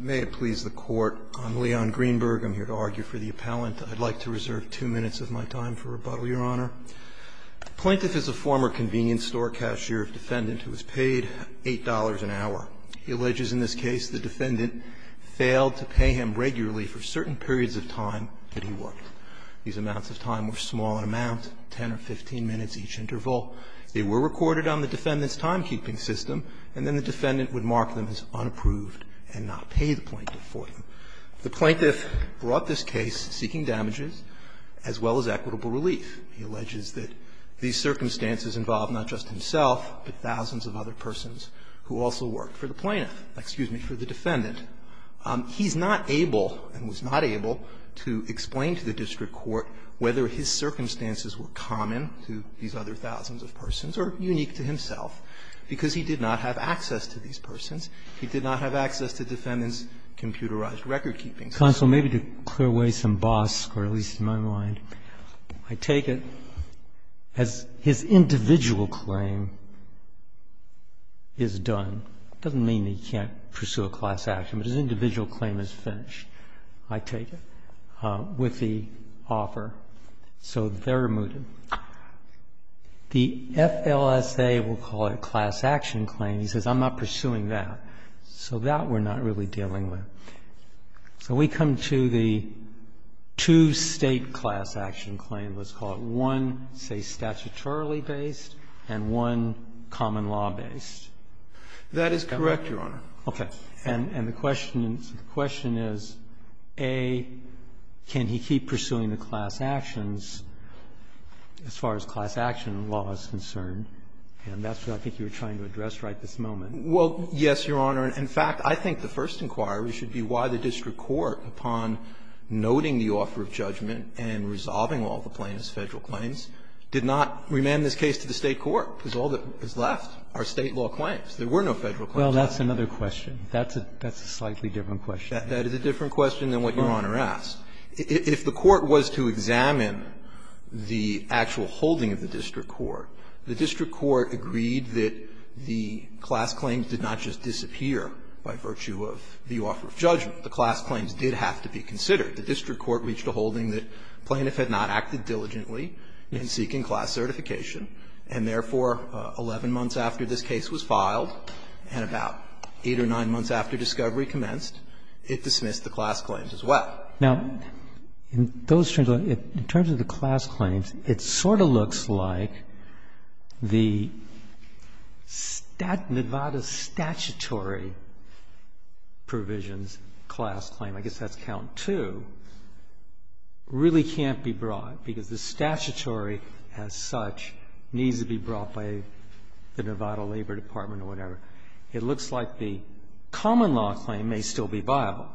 May it please the Court, I'm Leon Greenberg. I'm here to argue for the Appellant. I'd like to reserve 2 minutes of my time for rebuttal, Your Honor. The Plaintiff is a former convenience store cashier of defendant who was paid $8 an hour. He alleges in this case the defendant failed to pay him regularly for certain periods of time that he worked. These amounts of time were small in amount, 10 or 15 minutes each interval. They were recorded on the defendant's timekeeping system, and then the defendant would mark them as unapproved and not pay the Plaintiff for them. The Plaintiff brought this case seeking damages as well as equitable relief. He alleges that these circumstances involved not just himself, but thousands of other persons who also worked for the Plaintiff, excuse me, for the defendant. He's not able and was not able to explain to the district court whether his circumstances were common to these other thousands of persons or unique to himself, because he did not have access to these persons. He did not have access to the defendant's computerized recordkeeping system. Roberts, Jr. Counsel, maybe to clear away some bosque, or at least in my mind, I take it as his individual claim is done. It doesn't mean that he can't pursue a class action, but his individual claim is finished, I take it, with the offer. So they're removed. The FLSA will call it a class action claim. He says, I'm not pursuing that. So that we're not really dealing with. So we come to the two-State class action claim. Let's call it one, say, statutorily based and one common law based. That is correct, Your Honor. Okay. And the question is, A, can he keep pursuing the class actions as far as class action law is concerned? And that's what I think you were trying to address right at this moment. Well, yes, Your Honor. In fact, I think the first inquiry should be why the district court, upon noting the offer of judgment and resolving all the plaintiffs' Federal claims, did not remand this case to the State court, because all that is left are State law claims. There were no Federal claims. Well, that's another question. That's a slightly different question. That is a different question than what Your Honor asked. If the court was to examine the actual holding of the district court, the district court agreed that the class claims did not just disappear by virtue of the offer of judgment. The class claims did have to be considered. The district court reached a holding that plaintiff had not acted diligently in seeking class certification, and therefore, 11 months after this case was filed and about 8 or 9 months after discovery commenced, it dismissed the class claims as well. Now, in those terms, in terms of the class claims, it sort of looks like the Nevada statutory provisions class claim, I guess that's count two, really can't be brought, because the statutory as such needs to be brought by the Nevada Labor Department or whatever. It looks like the common law claim may still be viable.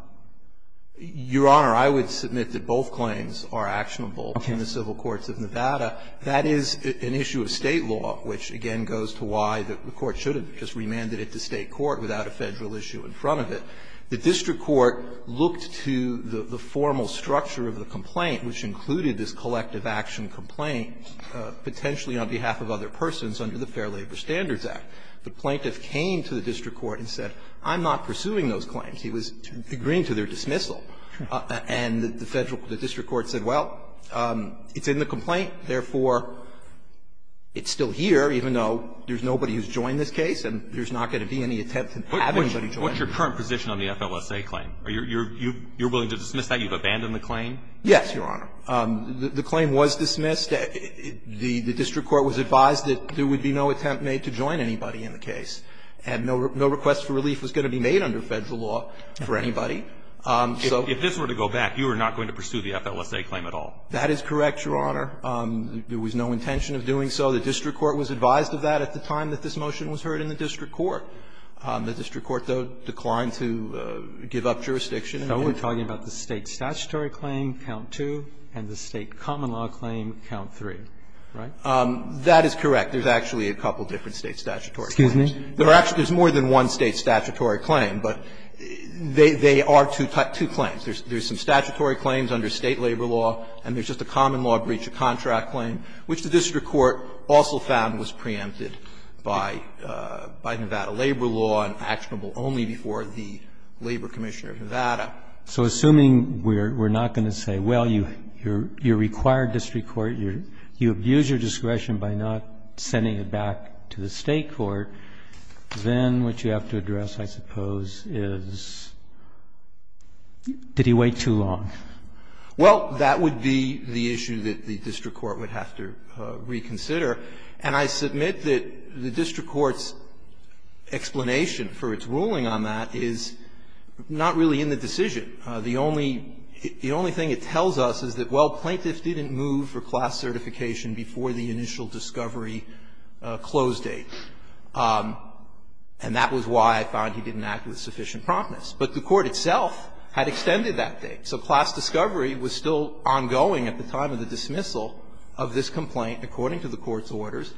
Your Honor, I would submit that both claims are actionable in the civil courts of Nevada. That is an issue of State law, which again goes to why the court should have just remanded it to State court without a Federal issue in front of it. The district court looked to the formal structure of the complaint, which included this collective action complaint, potentially on behalf of other persons under the Fair Labor Standards Act. The plaintiff came to the district court and said, I'm not pursuing those claims. He was agreeing to their dismissal. And the Federal the district court said, well, it's in the complaint, therefore, it's still here, even though there's nobody who's joined this case and there's not going to be any attempt to have anybody join it. What's your current position on the FLSA claim? Are you willing to dismiss that? You've abandoned the claim? Yes, Your Honor. The claim was dismissed. The district court was advised that there would be no attempt made to join anybody in the case, and no request for relief was going to be made under Federal law for anybody. So if this were to go back, you were not going to pursue the FLSA claim at all. That is correct, Your Honor. There was no intention of doing so. The district court was advised of that at the time that this motion was heard in the district court. The district court, though, declined to give up jurisdiction. So we're talking about the State statutory claim, count two, and the State common law claim, count three, right? That is correct. There's actually a couple of different State statutory claims. Excuse me? There are actually more than one State statutory claim, but they are two claims. There's some statutory claims under State labor law, and there's just a common law breach of contract claim, which the district court also found was preempted by Nevada labor law and actionable only before the labor commissioner of Nevada. So assuming we're not going to say, well, you require district court, you abuse your discretion by not sending it back to the State court, then what you have to address, I suppose, is did he wait too long? Well, that would be the issue that the district court would have to reconsider. And I submit that the district court's explanation for its ruling on that is not really in the decision. The only thing it tells us is that, well, plaintiff didn't move for class certification before the initial discovery close date, and that was why I found he didn't act with sufficient promptness. But the court itself had extended that date. So class discovery was still ongoing at the time of the dismissal of this complaint according to the court's orders.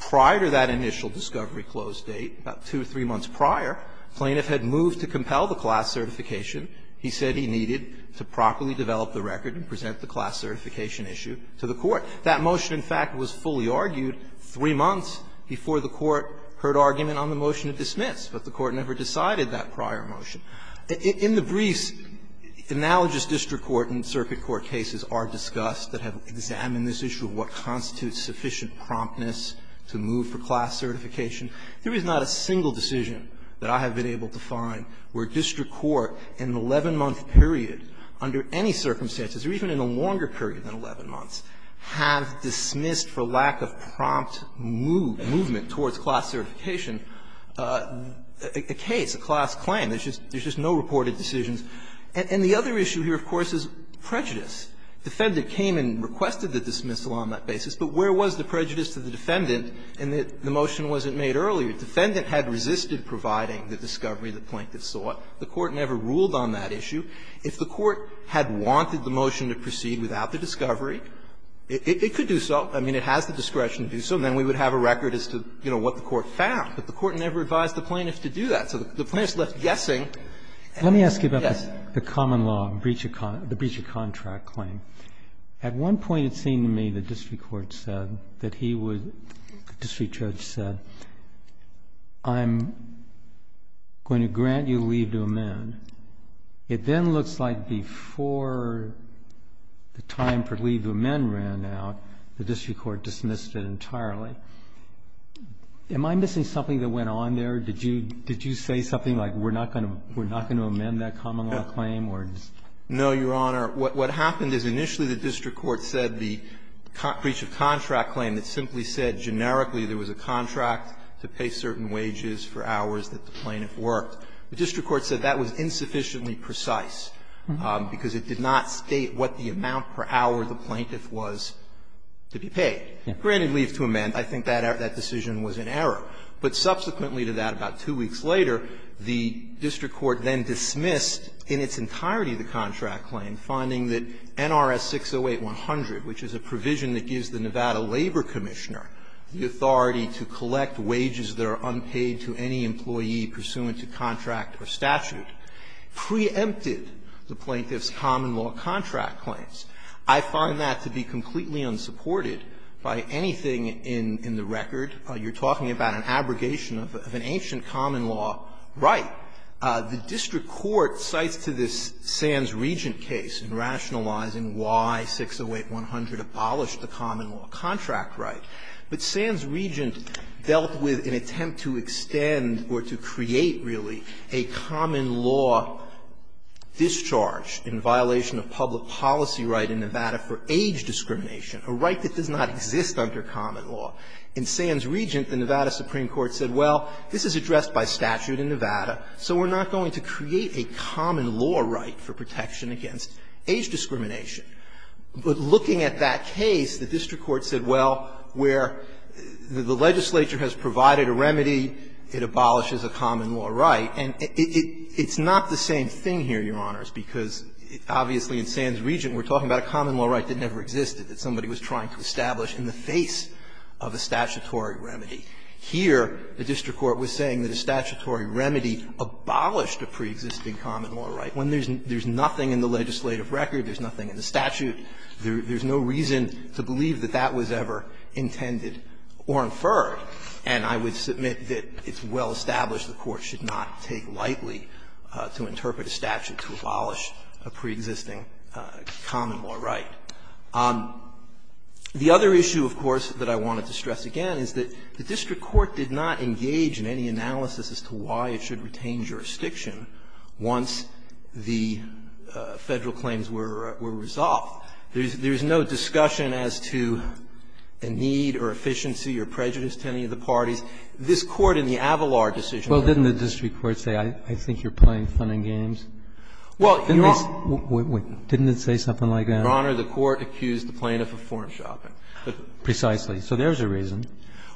Prior to that initial discovery close date, about two or three months prior, plaintiff had moved to compel the class certification he said he needed to properly develop the record and present the class certification issue to the court. That motion, in fact, was fully argued three months before the court heard argument on the motion to dismiss, but the court never decided that prior motion. In the briefs, analogous district court and circuit court cases are discussed that have examined this issue of what constitutes sufficient promptness to move for class certification. There is not a single decision that I have been able to find where district court in an 11-month period under any circumstances, or even in a longer period than 11 months, have dismissed for lack of prompt movement towards class certification a case, a class claim. There's just no reported decisions. And the other issue here, of course, is prejudice. Defendant came and requested the dismissal on that basis, but where was the prejudice to the defendant in that the motion wasn't made earlier? Defendant had resisted providing the discovery the plaintiff sought. The court never ruled on that issue. If the court had wanted the motion to proceed without the discovery, it could do so. I mean, it has the discretion to do so, and then we would have a record as to, you know, what the court found. But the court never advised the plaintiff to do that. So the plaintiff is left guessing. And yes. Roberts, let me ask you about the common law, the breach of contract claim. At one point, it seemed to me the district court said that he would, the district judge said, I'm going to grant you leave to amend. It then looks like before the time for leave to amend ran out, the district court dismissed it entirely. Am I missing something that went on there? Did you say something like, we're not going to amend that common law claim? No, Your Honor. What happened is initially the district court said the breach of contract claim that simply said generically there was a contract to pay certain wages for hours that the plaintiff worked. The district court said that was insufficiently precise, because it did not state what the amount per hour the plaintiff was to be paid. Granted leave to amend, I think that decision was in error. But subsequently to that, about two weeks later, the district court then dismissed in its entirety the contract claim, finding that NRS 608-100, which is a provision that gives the Nevada Labor Commissioner the authority to collect wages that are unpaid to any employee pursuant to contract or statute, preempted the plaintiff's common law contract claims. I find that to be completely unsupported by anything in the record. You're talking about an abrogation of an ancient common law right. The district court cites to this Sands-Regent case in rationalizing why 608-100 abolished the common law contract right. But Sands-Regent dealt with an attempt to extend or to create, really, a common law discharge in violation of public policy right in Nevada for age discrimination, a right that does not exist under common law. In Sands-Regent, the Nevada Supreme Court said, well, this is addressed by statute in Nevada, so we're not going to create a common law right for protection against age discrimination. But looking at that case, the district court said, well, where the legislature has provided a remedy, it abolishes a common law right. And it's not the same thing here, Your Honors, because obviously in Sands-Regent we're talking about a common law right that never existed, that somebody was trying to establish in the face of a statutory remedy. Here, the district court was saying that a statutory remedy abolished a preexisting common law right when there's nothing in the legislative record, there's nothing in the statute, there's no reason to believe that that was ever intended or inferred. And I would submit that it's well-established the Court should not take lightly to interpret a statute to abolish a preexisting common law right. The other issue, of course, that I wanted to stress again is that the district court did not engage in any analysis as to why it should retain jurisdiction once the Federal claims were resolved. There's no discussion as to a need or efficiency or prejudice to any of the parties. This Court in the Avalar decision. Roberts, Jr. Well, didn't the district court say, I think you're playing fun and games? Didn't it say something like that? The district court said, Your Honor, the Court accused the plaintiff of form-shopping. Breyer, Precisely. So there's a reason.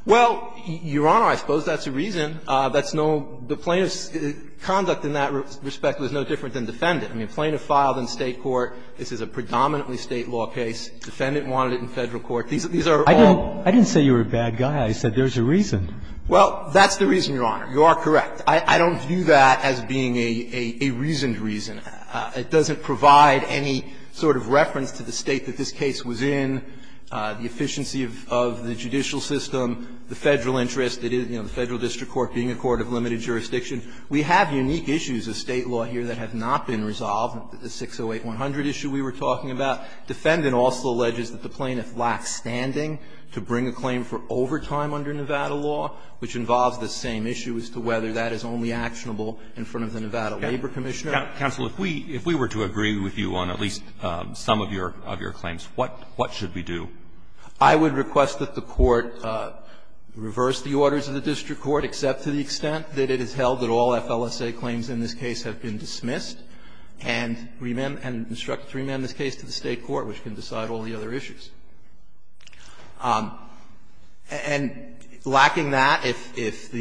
Well, Your Honor, I suppose that's a reason. That's no – the plaintiff's conduct in that respect was no different than defendant. I mean, plaintiff filed in State court. This is a predominantly State law case. Defendant wanted it in Federal court. These are all – I didn't say you were a bad guy. I said there's a reason. Well, that's the reason, Your Honor. You are correct. I don't view that as being a reasoned reason. It doesn't provide any sort of reference to the State that this case was in, the efficiency of the judicial system, the Federal interest, the Federal district court being a court of limited jurisdiction. We have unique issues of State law here that have not been resolved, the 608-100 issue we were talking about. Defendant also alleges that the plaintiff lacks standing to bring a claim for overtime under Nevada law, which involves the same issue as to whether that is only actionable in front of the Nevada Labor Commissioner. Counsel, if we were to agree with you on at least some of your claims, what should we do? I would request that the Court reverse the orders of the district court, except to the extent that it is held that all FLSA claims in this case have been dismissed and instructed to remand this case to the State court, which can decide all the other issues. And lacking that, if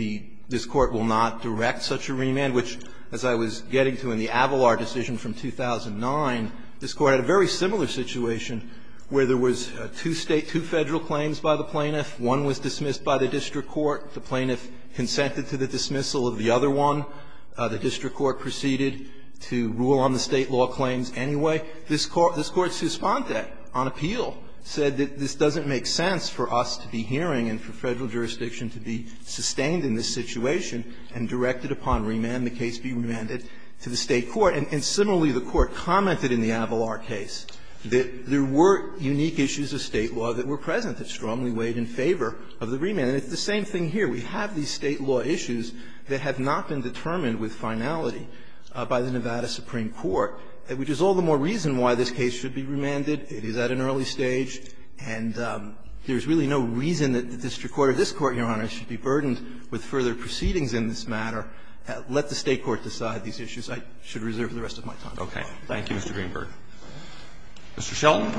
this Court will not direct such a remand, which, as I was getting to in the Avalar decision from 2009, this Court had a very similar situation where there was two State, two Federal claims by the plaintiff, one was dismissed by the district court, the plaintiff consented to the dismissal of the other one, the district court proceeded to rule on the State law claims anyway, this Court suspended on appeal, said that this doesn't make sense for us to be hearing and for the State court. And similarly, the Court commented in the Avalar case that there were unique issues of State law that were present that strongly weighed in favor of the remand. And it's the same thing here. We have these State law issues that have not been determined with finality by the Nevada Supreme Court, which is all the more reason why this case should be remanded. It is at an early stage, and there's really no reason that the district court or this Court, Your Honor, should be burdened with further proceedings in this matter. Let the State court decide these issues. I should reserve the rest of my time. Roberts. Thank you, Mr. Greenberg. Mr. Shelton.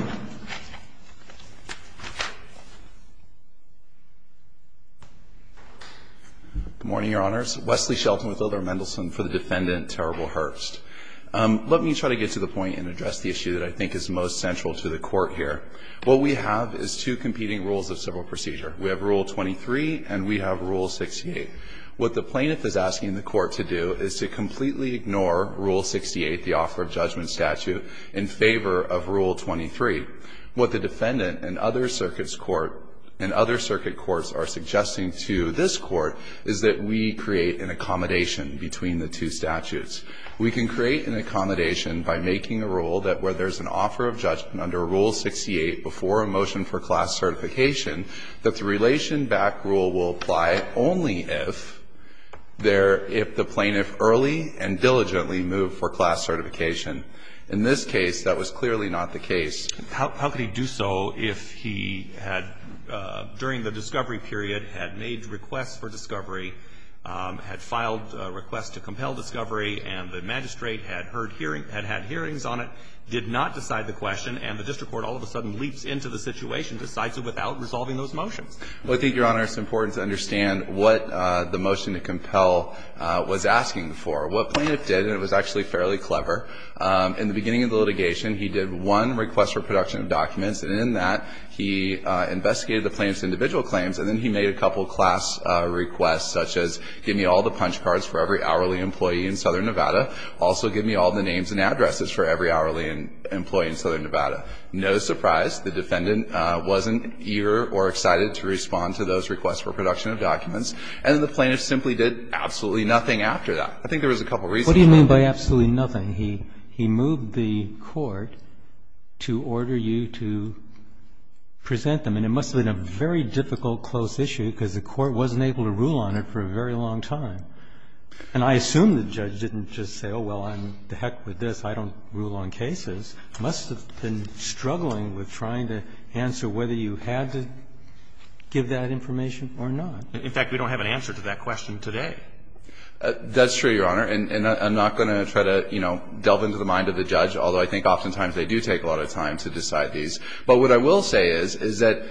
Good morning, Your Honors. Wesley Shelton with Ildar Mendelson for the defendant, Terrible Hearst. Let me try to get to the point and address the issue that I think is most central to the Court here. What we have is two competing rules of civil procedure. We have Rule 23 and we have Rule 68. What the plaintiff is asking the Court to do is to completely ignore Rule 68, the offer of judgment statute, in favor of Rule 23. What the defendant and other circuit courts are suggesting to this Court is that we create an accommodation between the two statutes. We can create an accommodation by making a rule that where there's an offer of judgment under Rule 68 before a motion for class certification, that the relation back rule will apply only if the plaintiff early and diligently moved for class certification. In this case, that was clearly not the case. How could he do so if he had, during the discovery period, had made requests for discovery, had filed a request to compel discovery, and the magistrate had had hearings on it, did not decide the question, and the district court all of a sudden leaps into the situation, decides it without resolving those motions? Well, I think, Your Honor, it's important to understand what the motion to compel was asking for. What plaintiff did, and it was actually fairly clever, in the beginning of the litigation, he did one request for production of documents, and in that, he investigated the plaintiff's individual claims, and then he made a couple class requests, such as give me all the punch cards for every hourly employee in Southern Nevada. Also, give me all the names and addresses for every hourly employee in Southern Nevada. No surprise, the defendant wasn't eager or excited to respond to those requests for production of documents, and the plaintiff simply did absolutely nothing after that. I think there was a couple reasons. What do you mean by absolutely nothing? He moved the court to order you to present them, and it must have been a very difficult, close issue, because the court wasn't able to rule on it for a very long time. And I assume the judge didn't just say, oh, well, I'm the heck with this. I don't rule on cases. It must have been struggling with trying to answer whether you had to give that information or not. In fact, we don't have an answer to that question today. That's true, Your Honor, and I'm not going to try to, you know, delve into the mind of the judge, although I think oftentimes they do take a lot of time to decide these. But what I will say is, is that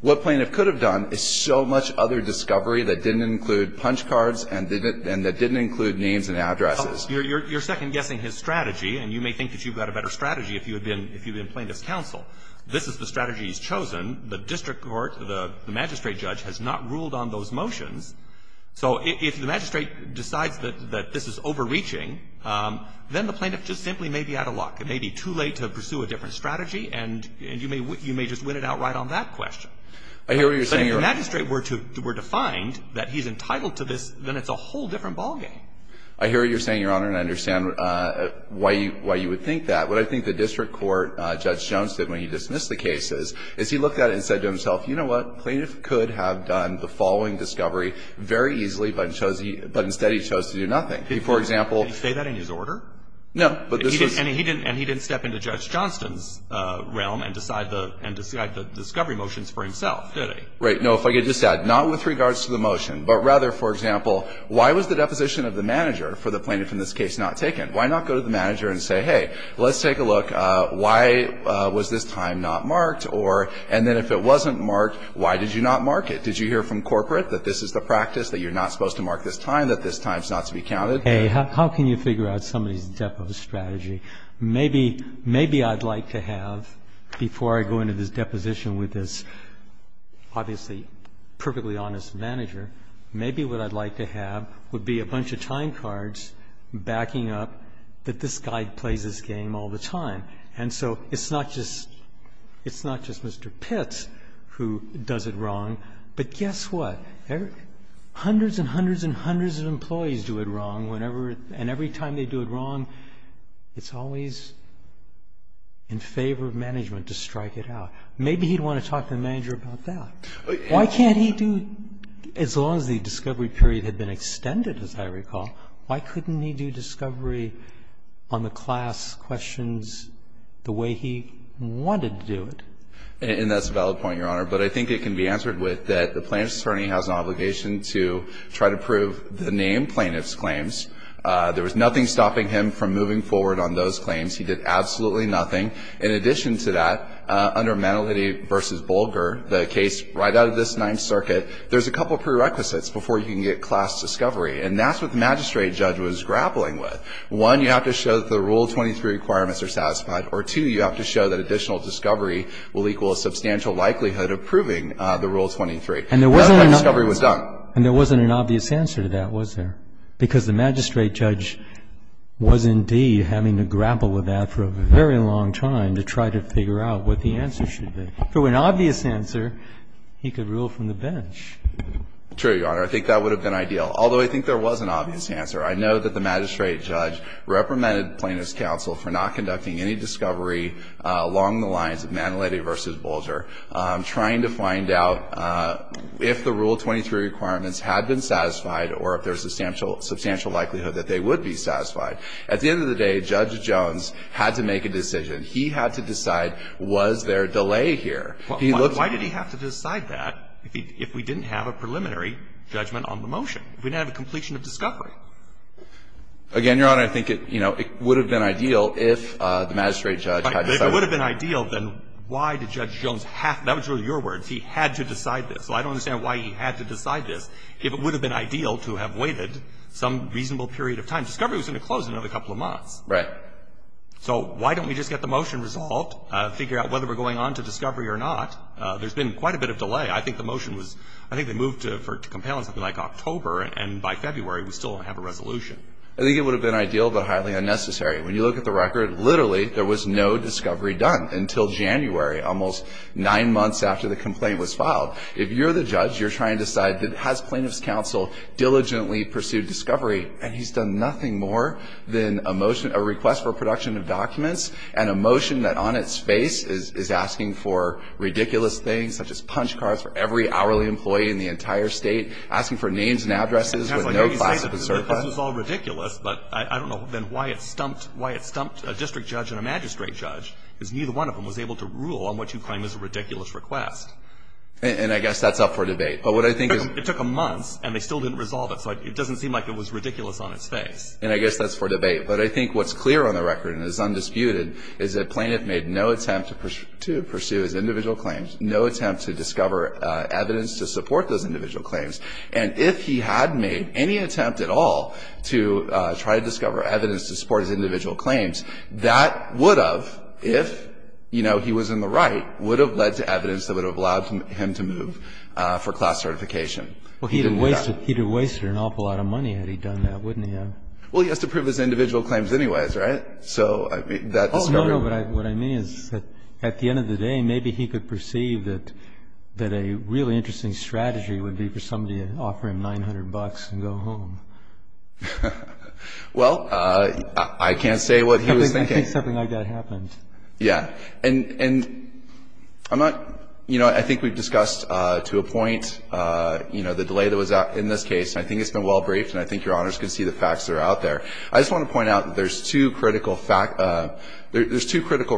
what plaintiff could have done is so much other discovery that didn't include punch cards and that didn't include names and addresses. You're second-guessing his strategy, and you may think that you've got a better strategy if you've been plaintiff's counsel. This is the strategy he's chosen. The district court, the magistrate judge, has not ruled on those motions. So if the magistrate decides that this is overreaching, then the plaintiff just simply may be out of luck. It may be too late to pursue a different strategy, and you may just win it outright on that question. I hear what you're saying, Your Honor. If the magistrate were to find that he's entitled to this, then it's a whole different ballgame. I hear what you're saying, Your Honor, and I understand why you would think that. What I think the district court, Judge Jones, did when he dismissed the case is, is he looked at it and said to himself, you know what, plaintiff could have done the following discovery very easily, but instead he chose to do nothing. He, for example — Did he say that in his order? No, but this was — And he didn't step into Judge Johnston's realm and decide the discovery motions for himself, did he? Right. No, if I could just add, not with regards to the motion, but rather, for example, why was the deposition of the manager for the plaintiff in this case not taken? Why not go to the manager and say, hey, let's take a look, why was this time not marked? Or — and then if it wasn't marked, why did you not mark it? Did you hear from corporate that this is the practice, that you're not supposed to mark this time, that this time's not to be counted? Hey, how can you figure out somebody's depo strategy? Maybe — maybe I'd like to have, before I go into this deposition with this obviously perfectly honest manager, maybe what I'd like to have would be a bunch of time cards backing up that this guy plays this game all the time. And so it's not just — it's not just Mr. Pitts who does it wrong, but guess what? Hundreds and hundreds and hundreds of employees do it wrong whenever — and every time they do it wrong, it's always in favor of management to strike it out. Maybe he'd want to talk to the manager about that. Why can't he do — as long as the discovery period had been extended, as I recall, why couldn't he do discovery on the class questions the way he wanted to do it? And that's a valid point, Your Honor. But I think it can be answered with that the plaintiff's attorney has an obligation to try to prove the name plaintiff's claims. There was nothing stopping him from moving forward on those claims. He did absolutely nothing. In addition to that, under Manalini v. Bolger, the case right out of this Ninth Circuit, there's a couple of prerequisites before you can get class discovery. And that's what the magistrate judge was grappling with. One, you have to show that the Rule 23 requirements are satisfied. Or two, you have to show that additional discovery will equal a substantial likelihood of proving the Rule 23. And there wasn't an obvious answer to that, was there? Because the magistrate judge was indeed having to grapple with that for a very long time to try to figure out what the answer should be. Through an obvious answer, he could rule from the bench. True, Your Honor. I think that would have been ideal. Although, I think there was an obvious answer. I know that the magistrate judge reprimanded Plaintiff's counsel for not conducting any discovery along the lines of Manalini v. Bolger, trying to find out if the Rule 23 requirements had been satisfied or if there was a substantial likelihood that they would be satisfied. At the end of the day, Judge Jones had to make a decision. He had to decide, was there a delay here? He looked at the rules. Why did he have to decide that if we didn't have a preliminary judgment on the motion, if we didn't have a completion of discovery? Again, Your Honor, I think it would have been ideal if the magistrate judge had decided that. If it would have been ideal, then why did Judge Jones have to do it? That was really your words. He had to decide this. So I don't understand why he had to decide this if it would have been ideal to have waited some reasonable period of time. Discovery was going to close in another couple of months. Right. So why don't we just get the motion resolved, figure out whether we're going on to discovery or not? There's been quite a bit of delay. I think the motion was, I think they moved to compel something like October, and by February, we still don't have a resolution. I think it would have been ideal, but highly unnecessary. When you look at the record, literally, there was no discovery done until January, almost nine months after the complaint was filed. If you're the judge, you're trying to decide, has Plaintiff's counsel diligently pursued discovery? And he's done nothing more than a motion, a request for production of documents, and a motion that on its face is asking for ridiculous things, such as punch cards for every hourly employee in the entire state, asking for names and addresses with no classification. This is all ridiculous, but I don't know why it stumped a district judge and a magistrate judge, because neither one of them was able to rule on what you claim is a ridiculous request. And I guess that's up for debate. But what I think is... It doesn't seem like it was ridiculous on its face. And I guess that's for debate. But I think what's clear on the record and is undisputed is that Plaintiff made no attempt to pursue his individual claims, no attempt to discover evidence to support those individual claims. And if he had made any attempt at all to try to discover evidence to support his individual claims, that would have, if, you know, he was in the right, would have led to evidence that would have allowed him to move for class certification. Well, he'd have wasted an awful lot of money had he done that, wouldn't he have? Well, he has to prove his individual claims anyways, right? So that discovery... Oh, no, no. But what I mean is that at the end of the day, maybe he could perceive that a really interesting strategy would be for somebody to offer him 900 bucks and go home. Well, I can't say what he was thinking. I think something like that happened. Yeah. And I'm not, you know, I think we've discussed to a point, you know, the delay that was in this case. I think it's been well briefed and I think Your Honors can see the facts that are out there. I just want to point out that there's two critical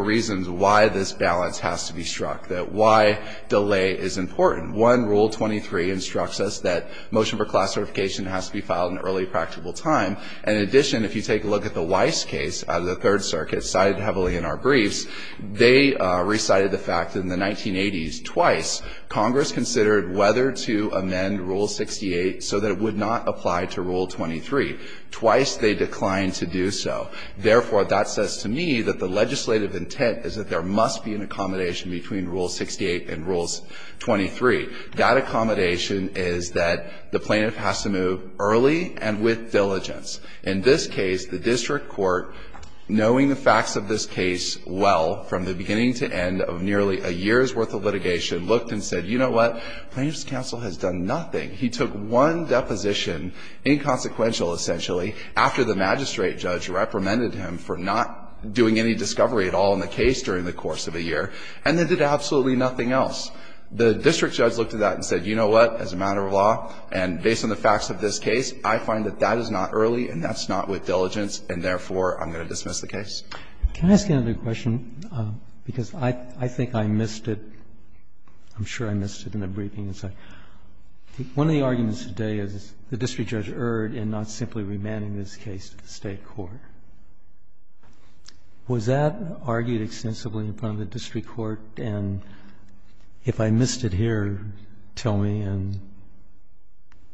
reasons why this balance has to be struck, that why delay is important. One, Rule 23 instructs us that motion for class certification has to be filed in early practicable time. And in addition, if you take a look at the Weiss case out of the Third Circuit, cited heavily in our briefs, they recited the fact that in the 1980s, twice, Congress considered whether to amend Rule 68 so that it would not apply to Rule 23. Twice they declined to do so. Therefore, that says to me that the legislative intent is that there must be an accommodation between Rule 68 and Rule 23. That accommodation is that the plaintiff has to move early and with diligence. In this case, the district court, knowing the facts of this case well from the beginning to end of nearly a year's worth of litigation, looked and said, you know what? Plaintiff's counsel has done nothing. He took one deposition, inconsequential essentially, after the magistrate judge reprimanded him for not doing any discovery at all in the case during the course of a year, and then did absolutely nothing else. The district judge looked at that and said, you know what? As a matter of law and based on the facts of this case, I find that that is not early and that's not with diligence, and therefore, I'm going to dismiss the case. Can I ask you another question? Because I think I missed it. I'm sure I missed it in the briefing. One of the arguments today is the district judge erred in not simply remanding this case to the State court. Was that argued extensively in front of the district court? And if I missed it here, tell me, and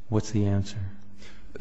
what's the answer?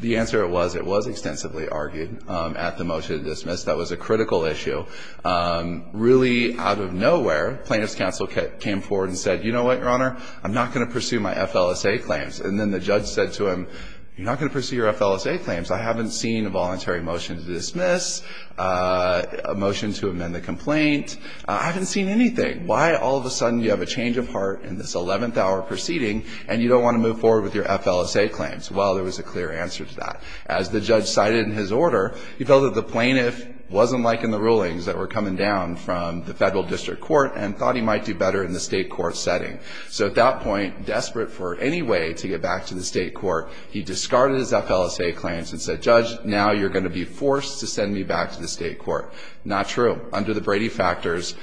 The answer was it was extensively argued at the motion to dismiss. That was a critical issue. Really out of nowhere, plaintiff's counsel came forward and said, you know what, Your Honor? I'm not going to pursue my FLSA claims. And then the judge said to him, you're not going to pursue your FLSA claims. I haven't seen a voluntary motion to dismiss, a motion to amend the complaint. I haven't seen anything. Why all of a sudden you have a change of heart in this 11th hour proceeding and you don't want to move forward with your FLSA claims? Well, there was a clear answer to that. As the judge cited in his order, he felt that the plaintiff wasn't liking the rulings that were coming down from the federal district court and thought he might do better in the State court setting. So at that point, desperate for any way to get back to the State court, he discarded his FLSA claims and said, Judge, now you're going to be forced to send me back to the State court. Not true. Under the Brady factors,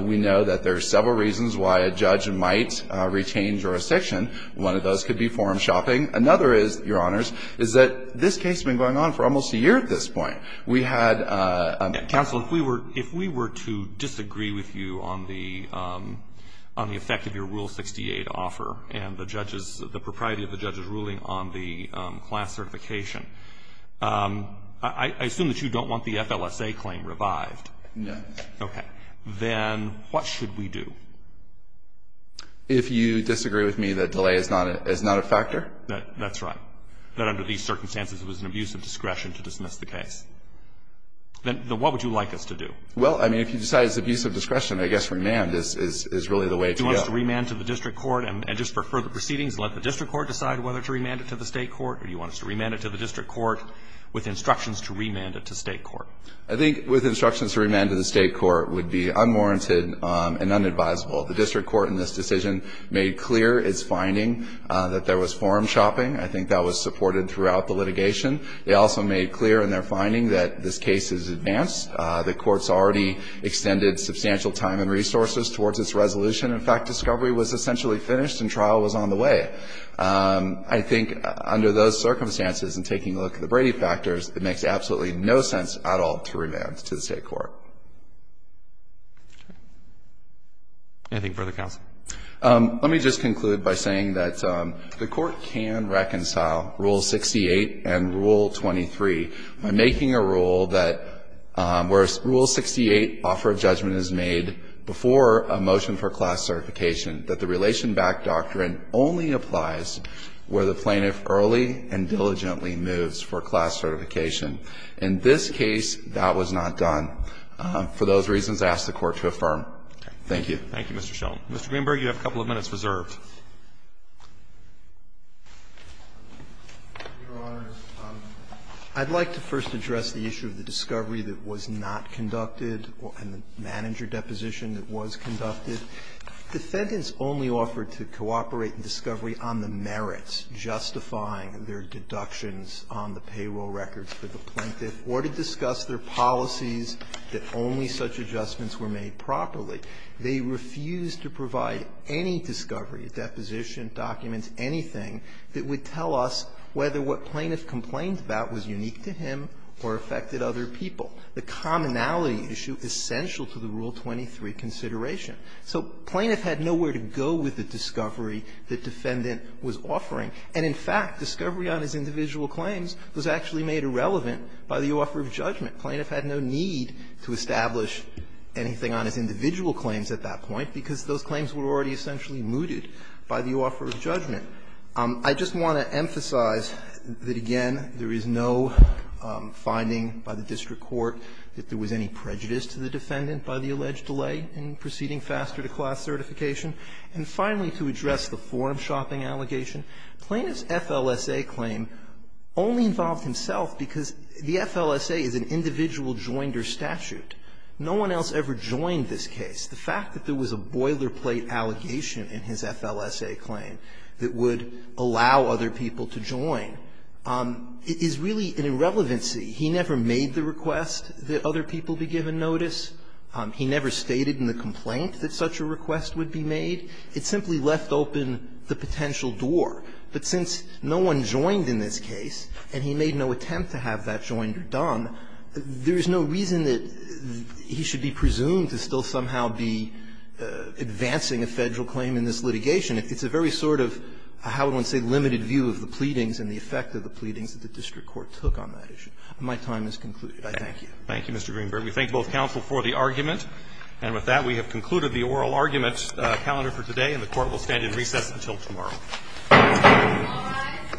we know that there are several reasons why a judge might retain jurisdiction. One of those could be forum shopping. Another is, Your Honors, is that this case has been going on for almost a year at this point. We had a ---- Counsel, if we were to disagree with you on the effect of your Rule 68 offer and the judge's, the propriety of the judge's ruling on the class certification, I assume that you don't want the FLSA claim revived. No. Okay. Then what should we do? If you disagree with me that delay is not a factor? That's right. That under these circumstances, it was an abuse of discretion to dismiss the case. Then what would you like us to do? Well, I mean, if you decide it's abuse of discretion, I guess remand is really the way to go. Do you want us to remand to the district court and just for further proceedings, let the district court decide whether to remand it to the State court, or do you want us to remand it to the district court with instructions to remand it to State court? I think with instructions to remand to the State court would be unwarranted and unadvisable. The district court in this decision made clear its finding that there was forum shopping. I think that was supported throughout the litigation. They also made clear in their finding that this case is advanced. The court's already extended substantial time and resources towards its resolution. In fact, discovery was essentially finished and trial was on the way. I think under those circumstances and taking a look at the Brady factors, it makes absolutely no sense at all to remand to the State court. Anything further, counsel? Let me just conclude by saying that the Court can reconcile Rule 68 and Rule 23. I'm making a rule that where Rule 68 offer of judgment is made before a motion for class certification, that the relation-backed doctrine only applies where the plaintiff early and diligently moves for class certification. In this case, that was not done. For those reasons, I ask the Court to affirm. Thank you. Thank you, Mr. Sheldon. Mr. Greenberg, you have a couple of minutes reserved. Greenberg, I'd like to first address the issue of the discovery that was not conducted and the manager deposition that was conducted. Defendants only offered to cooperate in discovery on the merits justifying their deductions on the payroll records for the plaintiff or to discuss their policies that only such adjustments were made properly. They refused to provide any discovery, a deposition, documents, anything that would tell us whether what plaintiff complained about was unique to him or affected other people, the commonality issue essential to the Rule 23 consideration. So plaintiff had nowhere to go with the discovery the defendant was offering. And in fact, discovery on his individual claims was actually made irrelevant by the offer of judgment. Plaintiff had no need to establish anything on his individual claims at that point because those claims were already essentially mooted by the offer of judgment. I just want to emphasize that, again, there is no finding by the district court that there was any prejudice to the defendant by the alleged delay in proceeding faster to class certification. And finally, to address the form-shopping allegation, plaintiff's FLSA claim only involved himself because the FLSA is an individual joinder statute. No one else ever joined this case. The fact that there was a boilerplate allegation in his FLSA claim that would allow other people to join is really an irrelevancy. He never made the request that other people be given notice. He never stated in the complaint that such a request would be made. It simply left open the potential door. But since no one joined in this case, and he made no attempt to have that joinder done, there is no reason that he should be presumed to still somehow be advancing a Federal claim in this litigation. It's a very sort of, how would one say, limited view of the pleadings and the effect of the pleadings that the district court took on that issue. My time is concluded. I thank you. Roberts. Thank you, Mr. Greenberg. We thank both counsel for the argument. And with that, we have concluded the oral arguments calendar for today, and the Court will stand in recess until tomorrow. Thank you, Mr. Greenberg. Thank you.